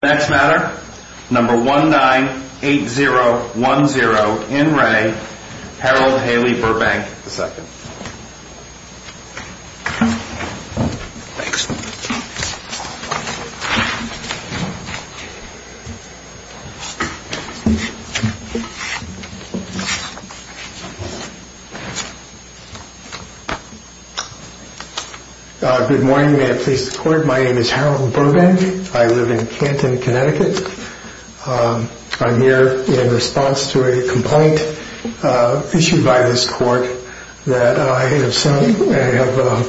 Next matter, number 198010, in Re, Harold Haley Burbank, II. Good morning, may it please the Court. My name is Harold Burbank, I live in Canton, Connecticut. I'm here in response to a complaint issued by this Court that I have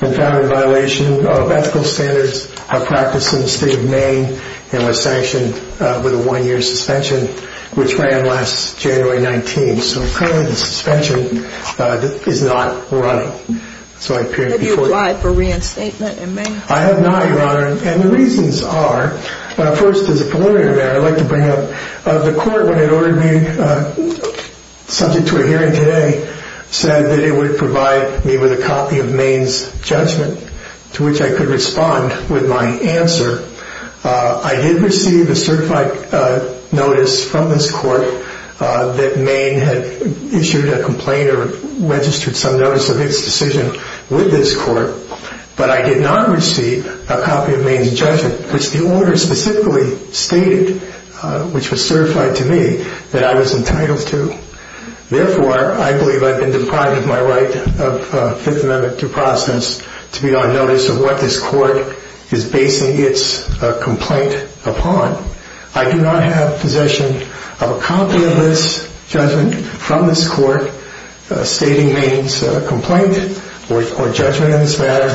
been found in violation of ethical standards of practice in the State of Maine and was sanctioned with a one-year suspension, which ran last January 19. So currently the suspension is not running. Have you applied for reinstatement in Maine? I have not, Your Honor, and the reasons are, first as a preliminary matter, I'd like to bring up the Court when it ordered me, subject to a hearing today, said that it would provide me with a copy of Maine's judgment to which I could respond with my answer. I did receive a certified notice from this Court that Maine had issued a complaint or registered some notice of its decision with this Court, but I did not receive a copy of Maine's judgment, which the order specifically stated, which was certified to me, that I was entitled to. Therefore, I believe I've been deprived of my right of Fifth Amendment due process to be on notice of what this Court is basing its complaint upon. I do not have possession of a copy of this judgment from this Court stating Maine's complaint or judgment in this matter,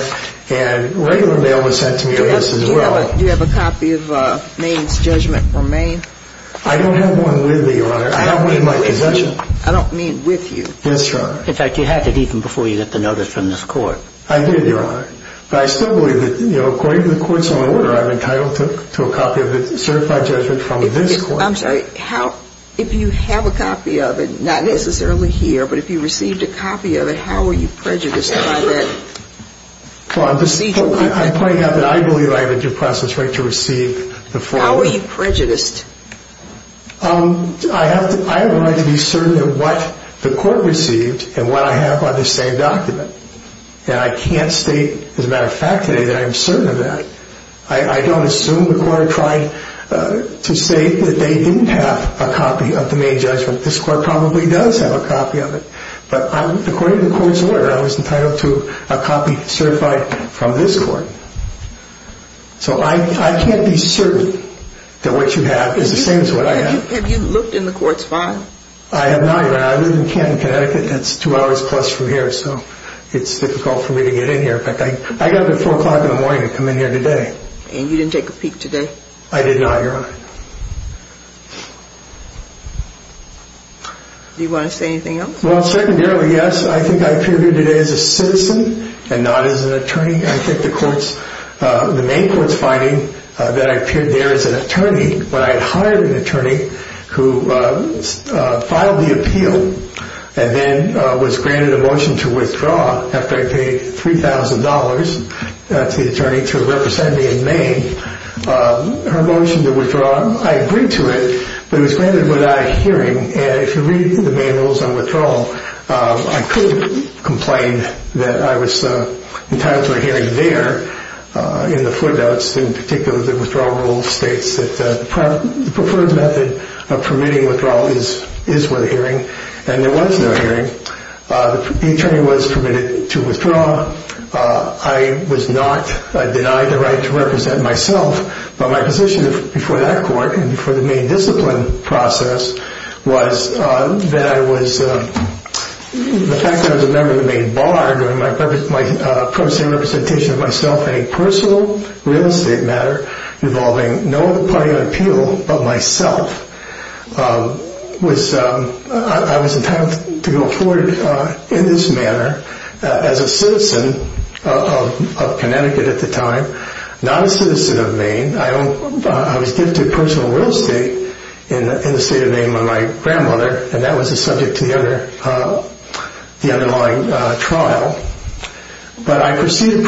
and regular mail was sent to me of this as well. Do you have a copy of Maine's judgment from Maine? I don't have one with me, Your Honor. I have one in my possession. I don't mean with you. Yes, Your Honor. In fact, you had it even before you got the notice from this Court. I did, Your Honor, but I still believe that, you know, according to the Court's own order, I'm entitled to a copy of the certified judgment from this Court. I'm sorry, if you have a copy of it, not necessarily here, but if you received a copy of it, how are you prejudiced by that? Well, I'm probably not, but I believe I have a due process right to receive the form. How are you prejudiced? I have the right to be certain of what the Court received and what I have on this same document. And I can't state, as a matter of fact today, that I am certain of that. I don't assume the Court tried to say that they didn't have a copy of the Maine judgment. This Court probably does have a copy of it. But according to the Court's order, I was entitled to a copy certified from this Court. So I can't be certain that what you have is the same as what I have. Have you looked in the Court's file? I have not, Your Honor. I live in Canton, Connecticut. That's two hours plus from here, so it's difficult for me to get in here. In fact, I got up at 4 o'clock in the morning to come in here today. And you didn't take a peek today? I did not, Your Honor. Do you want to say anything else? Well, secondarily, yes. I think I appear here today as a citizen and not as an attorney. I think the Maine Court's finding that I appeared there as an attorney, but I had hired an attorney who filed the appeal and then was granted a motion to withdraw after I paid $3,000 to the attorney to represent me in Maine. Her motion to withdraw, I agreed to it, but it was granted without a hearing. And if you read the Maine Rules on Withdrawal, I could complain that I was entitled to a hearing there in the footnotes. In particular, the withdrawal rule states that the preferred method of permitting withdrawal is with a hearing, and there was no hearing. The attorney was permitted to withdraw. I was not denied the right to represent myself, but my position before that court and before the Maine discipline process was that the fact that I was a member of the Maine Bar, my purpose in representation of myself in a personal real estate matter involving no other party on appeal but myself, I was entitled to go forward in this manner as a citizen of Connecticut at the time, not a citizen of Maine. I was gifted personal real estate in the state of Maine by my grandmother, and that was the subject of the underlying trial. But I proceeded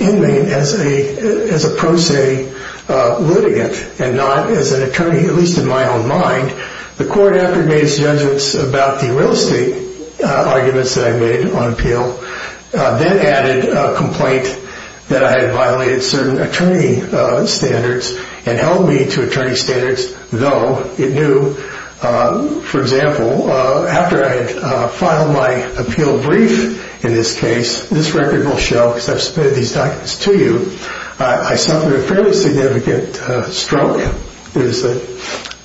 in Maine as a pro se litigant and not as an attorney, at least in my own mind. The court, after it made its judgments about the real estate arguments that I made on appeal, then added a complaint that I had violated certain attorney standards and held me to attorney standards, though it knew. For example, after I had filed my appeal brief in this case, this record will show because I've submitted these documents to you, I suffered a fairly significant stroke.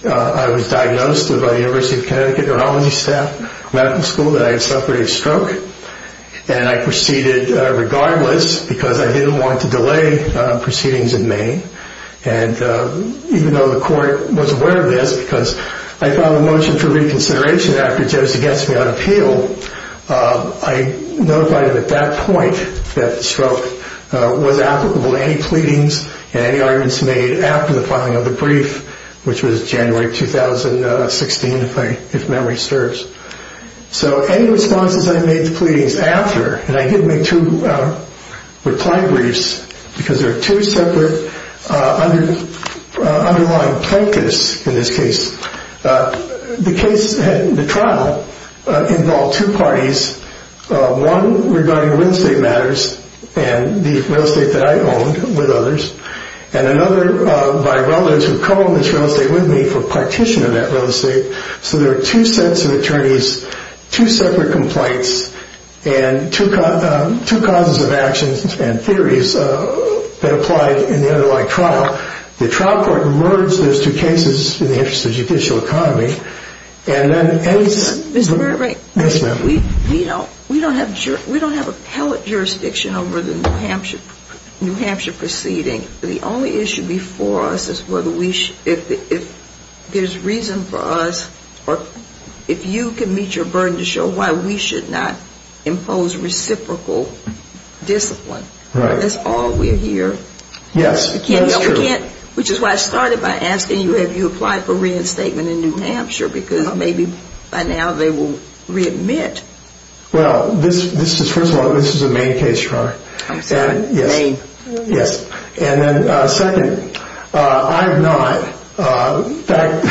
I was diagnosed by the University of Connecticut neurology staff medical school that I had suffered a stroke, and I proceeded regardless because I didn't want to delay proceedings in Maine. And even though the court was aware of this because I filed a motion for reconsideration after Joseph gets me on appeal, I notified him at that point that the stroke was applicable to any pleadings and any arguments made after the filing of the brief, which was January 2016, if memory serves. So any responses I made to pleadings after, and I didn't make two reply briefs because there are two separate underlying plaintiffs in this case. The trial involved two parties, one regarding real estate matters and the real estate that I owned with others, and another by relatives who co-owned this real estate with me for partition of that real estate. So there are two sets of attorneys, two separate complaints, and two causes of actions and theories that applied in the underlying trial. The trial court merged those two cases in the interest of judicial economy. Mr. Burbank, we don't have appellate jurisdiction over the New Hampshire proceeding. The only issue before us is whether there's reason for us, or if you can meet your burden to show why we should not impose reciprocal discipline. That's all we hear. Yes, that's true. Which is why I started by asking you, have you applied for reinstatement in New Hampshire? Because maybe by now they will readmit. Well, first of all, this is a main case, Your Honor. I'm sorry, main. Yes, and then second, I have not. In fact,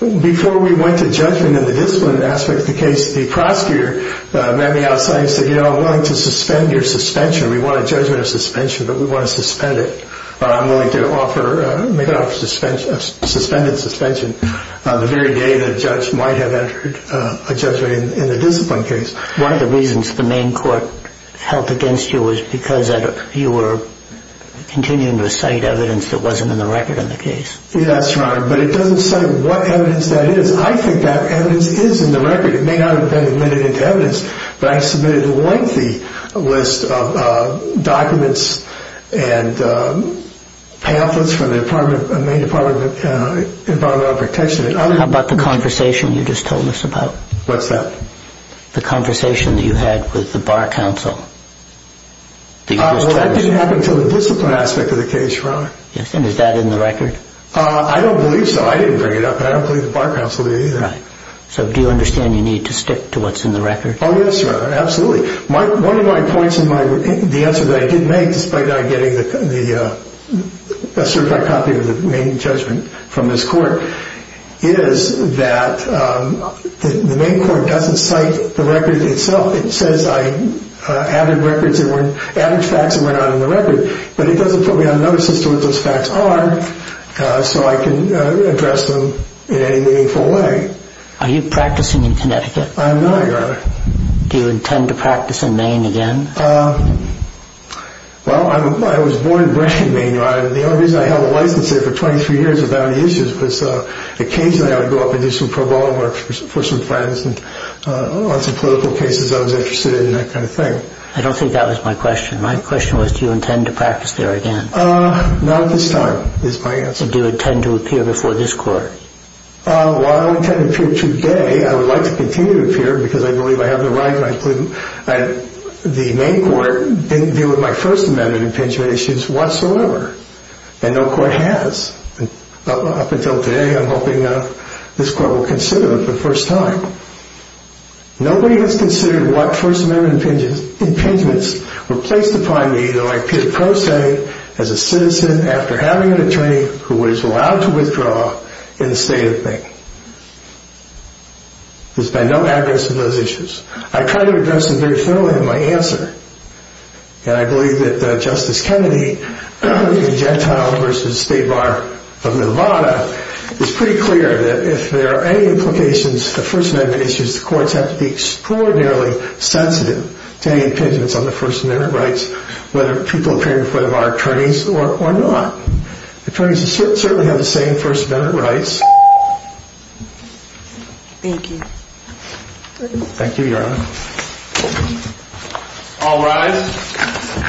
before we went to judgment in the discipline aspect of the case, the prosecutor met me outside and said, you know, I'm willing to suspend your suspension. We want a judgment of suspension, but we want to suspend it. I'm willing to make an offer of suspended suspension on the very day the judge might have entered a judgment in the discipline case. One of the reasons the main court held against you was because you were continuing to cite evidence that wasn't in the record of the case. Yes, Your Honor, but it doesn't say what evidence that is. I think that evidence is in the record. It may not have been admitted into evidence, but I submitted a lengthy list of documents and pamphlets from the main Department of Environmental Protection. How about the conversation you just told us about? What's that? The conversation that you had with the Bar Counsel. Well, that didn't happen until the discipline aspect of the case, Your Honor. Yes, and is that in the record? I don't believe so. I didn't bring it up, and I don't believe the Bar Counsel did either. Right. So do you understand you need to stick to what's in the record? Oh, yes, Your Honor, absolutely. One of my points in the answer that I did make, despite not getting a certified copy of the main judgment from this court, is that the main court doesn't cite the record itself. It says I added facts that were not in the record, but it doesn't put me on notice as to what those facts are so I can address them in any meaningful way. Are you practicing in Connecticut? I'm not, Your Honor. Do you intend to practice in Maine again? Well, I was born and raised in Maine, Your Honor, and the only reason I held a license there for 23 years without any issues was occasionally I would go up and do some pro bono work for some friends on some political cases I was interested in and that kind of thing. I don't think that was my question. My question was do you intend to practice there again? Not at this time is my answer. Do you intend to appear before this court? Well, I don't intend to appear today. I would like to continue to appear because I believe I have the right. The main court didn't deal with my First Amendment impingement issues whatsoever, and no court has up until today. I'm hoping this court will consider them for the first time. Nobody has considered what First Amendment impingements were placed upon me as a citizen after having an attorney who was allowed to withdraw in the state of Maine. There's been no evidence of those issues. I tried to address them very thoroughly in my answer, and I believe that Justice Kennedy in Gentile v. State Bar of Nevada is pretty clear that if there are any implications of First Amendment issues, the courts have to be extraordinarily sensitive to any impingements on the First Amendment rights, whether people appear in front of our attorneys or not. Attorneys certainly have the same First Amendment rights. Thank you. Thank you, Your Honor. All rise.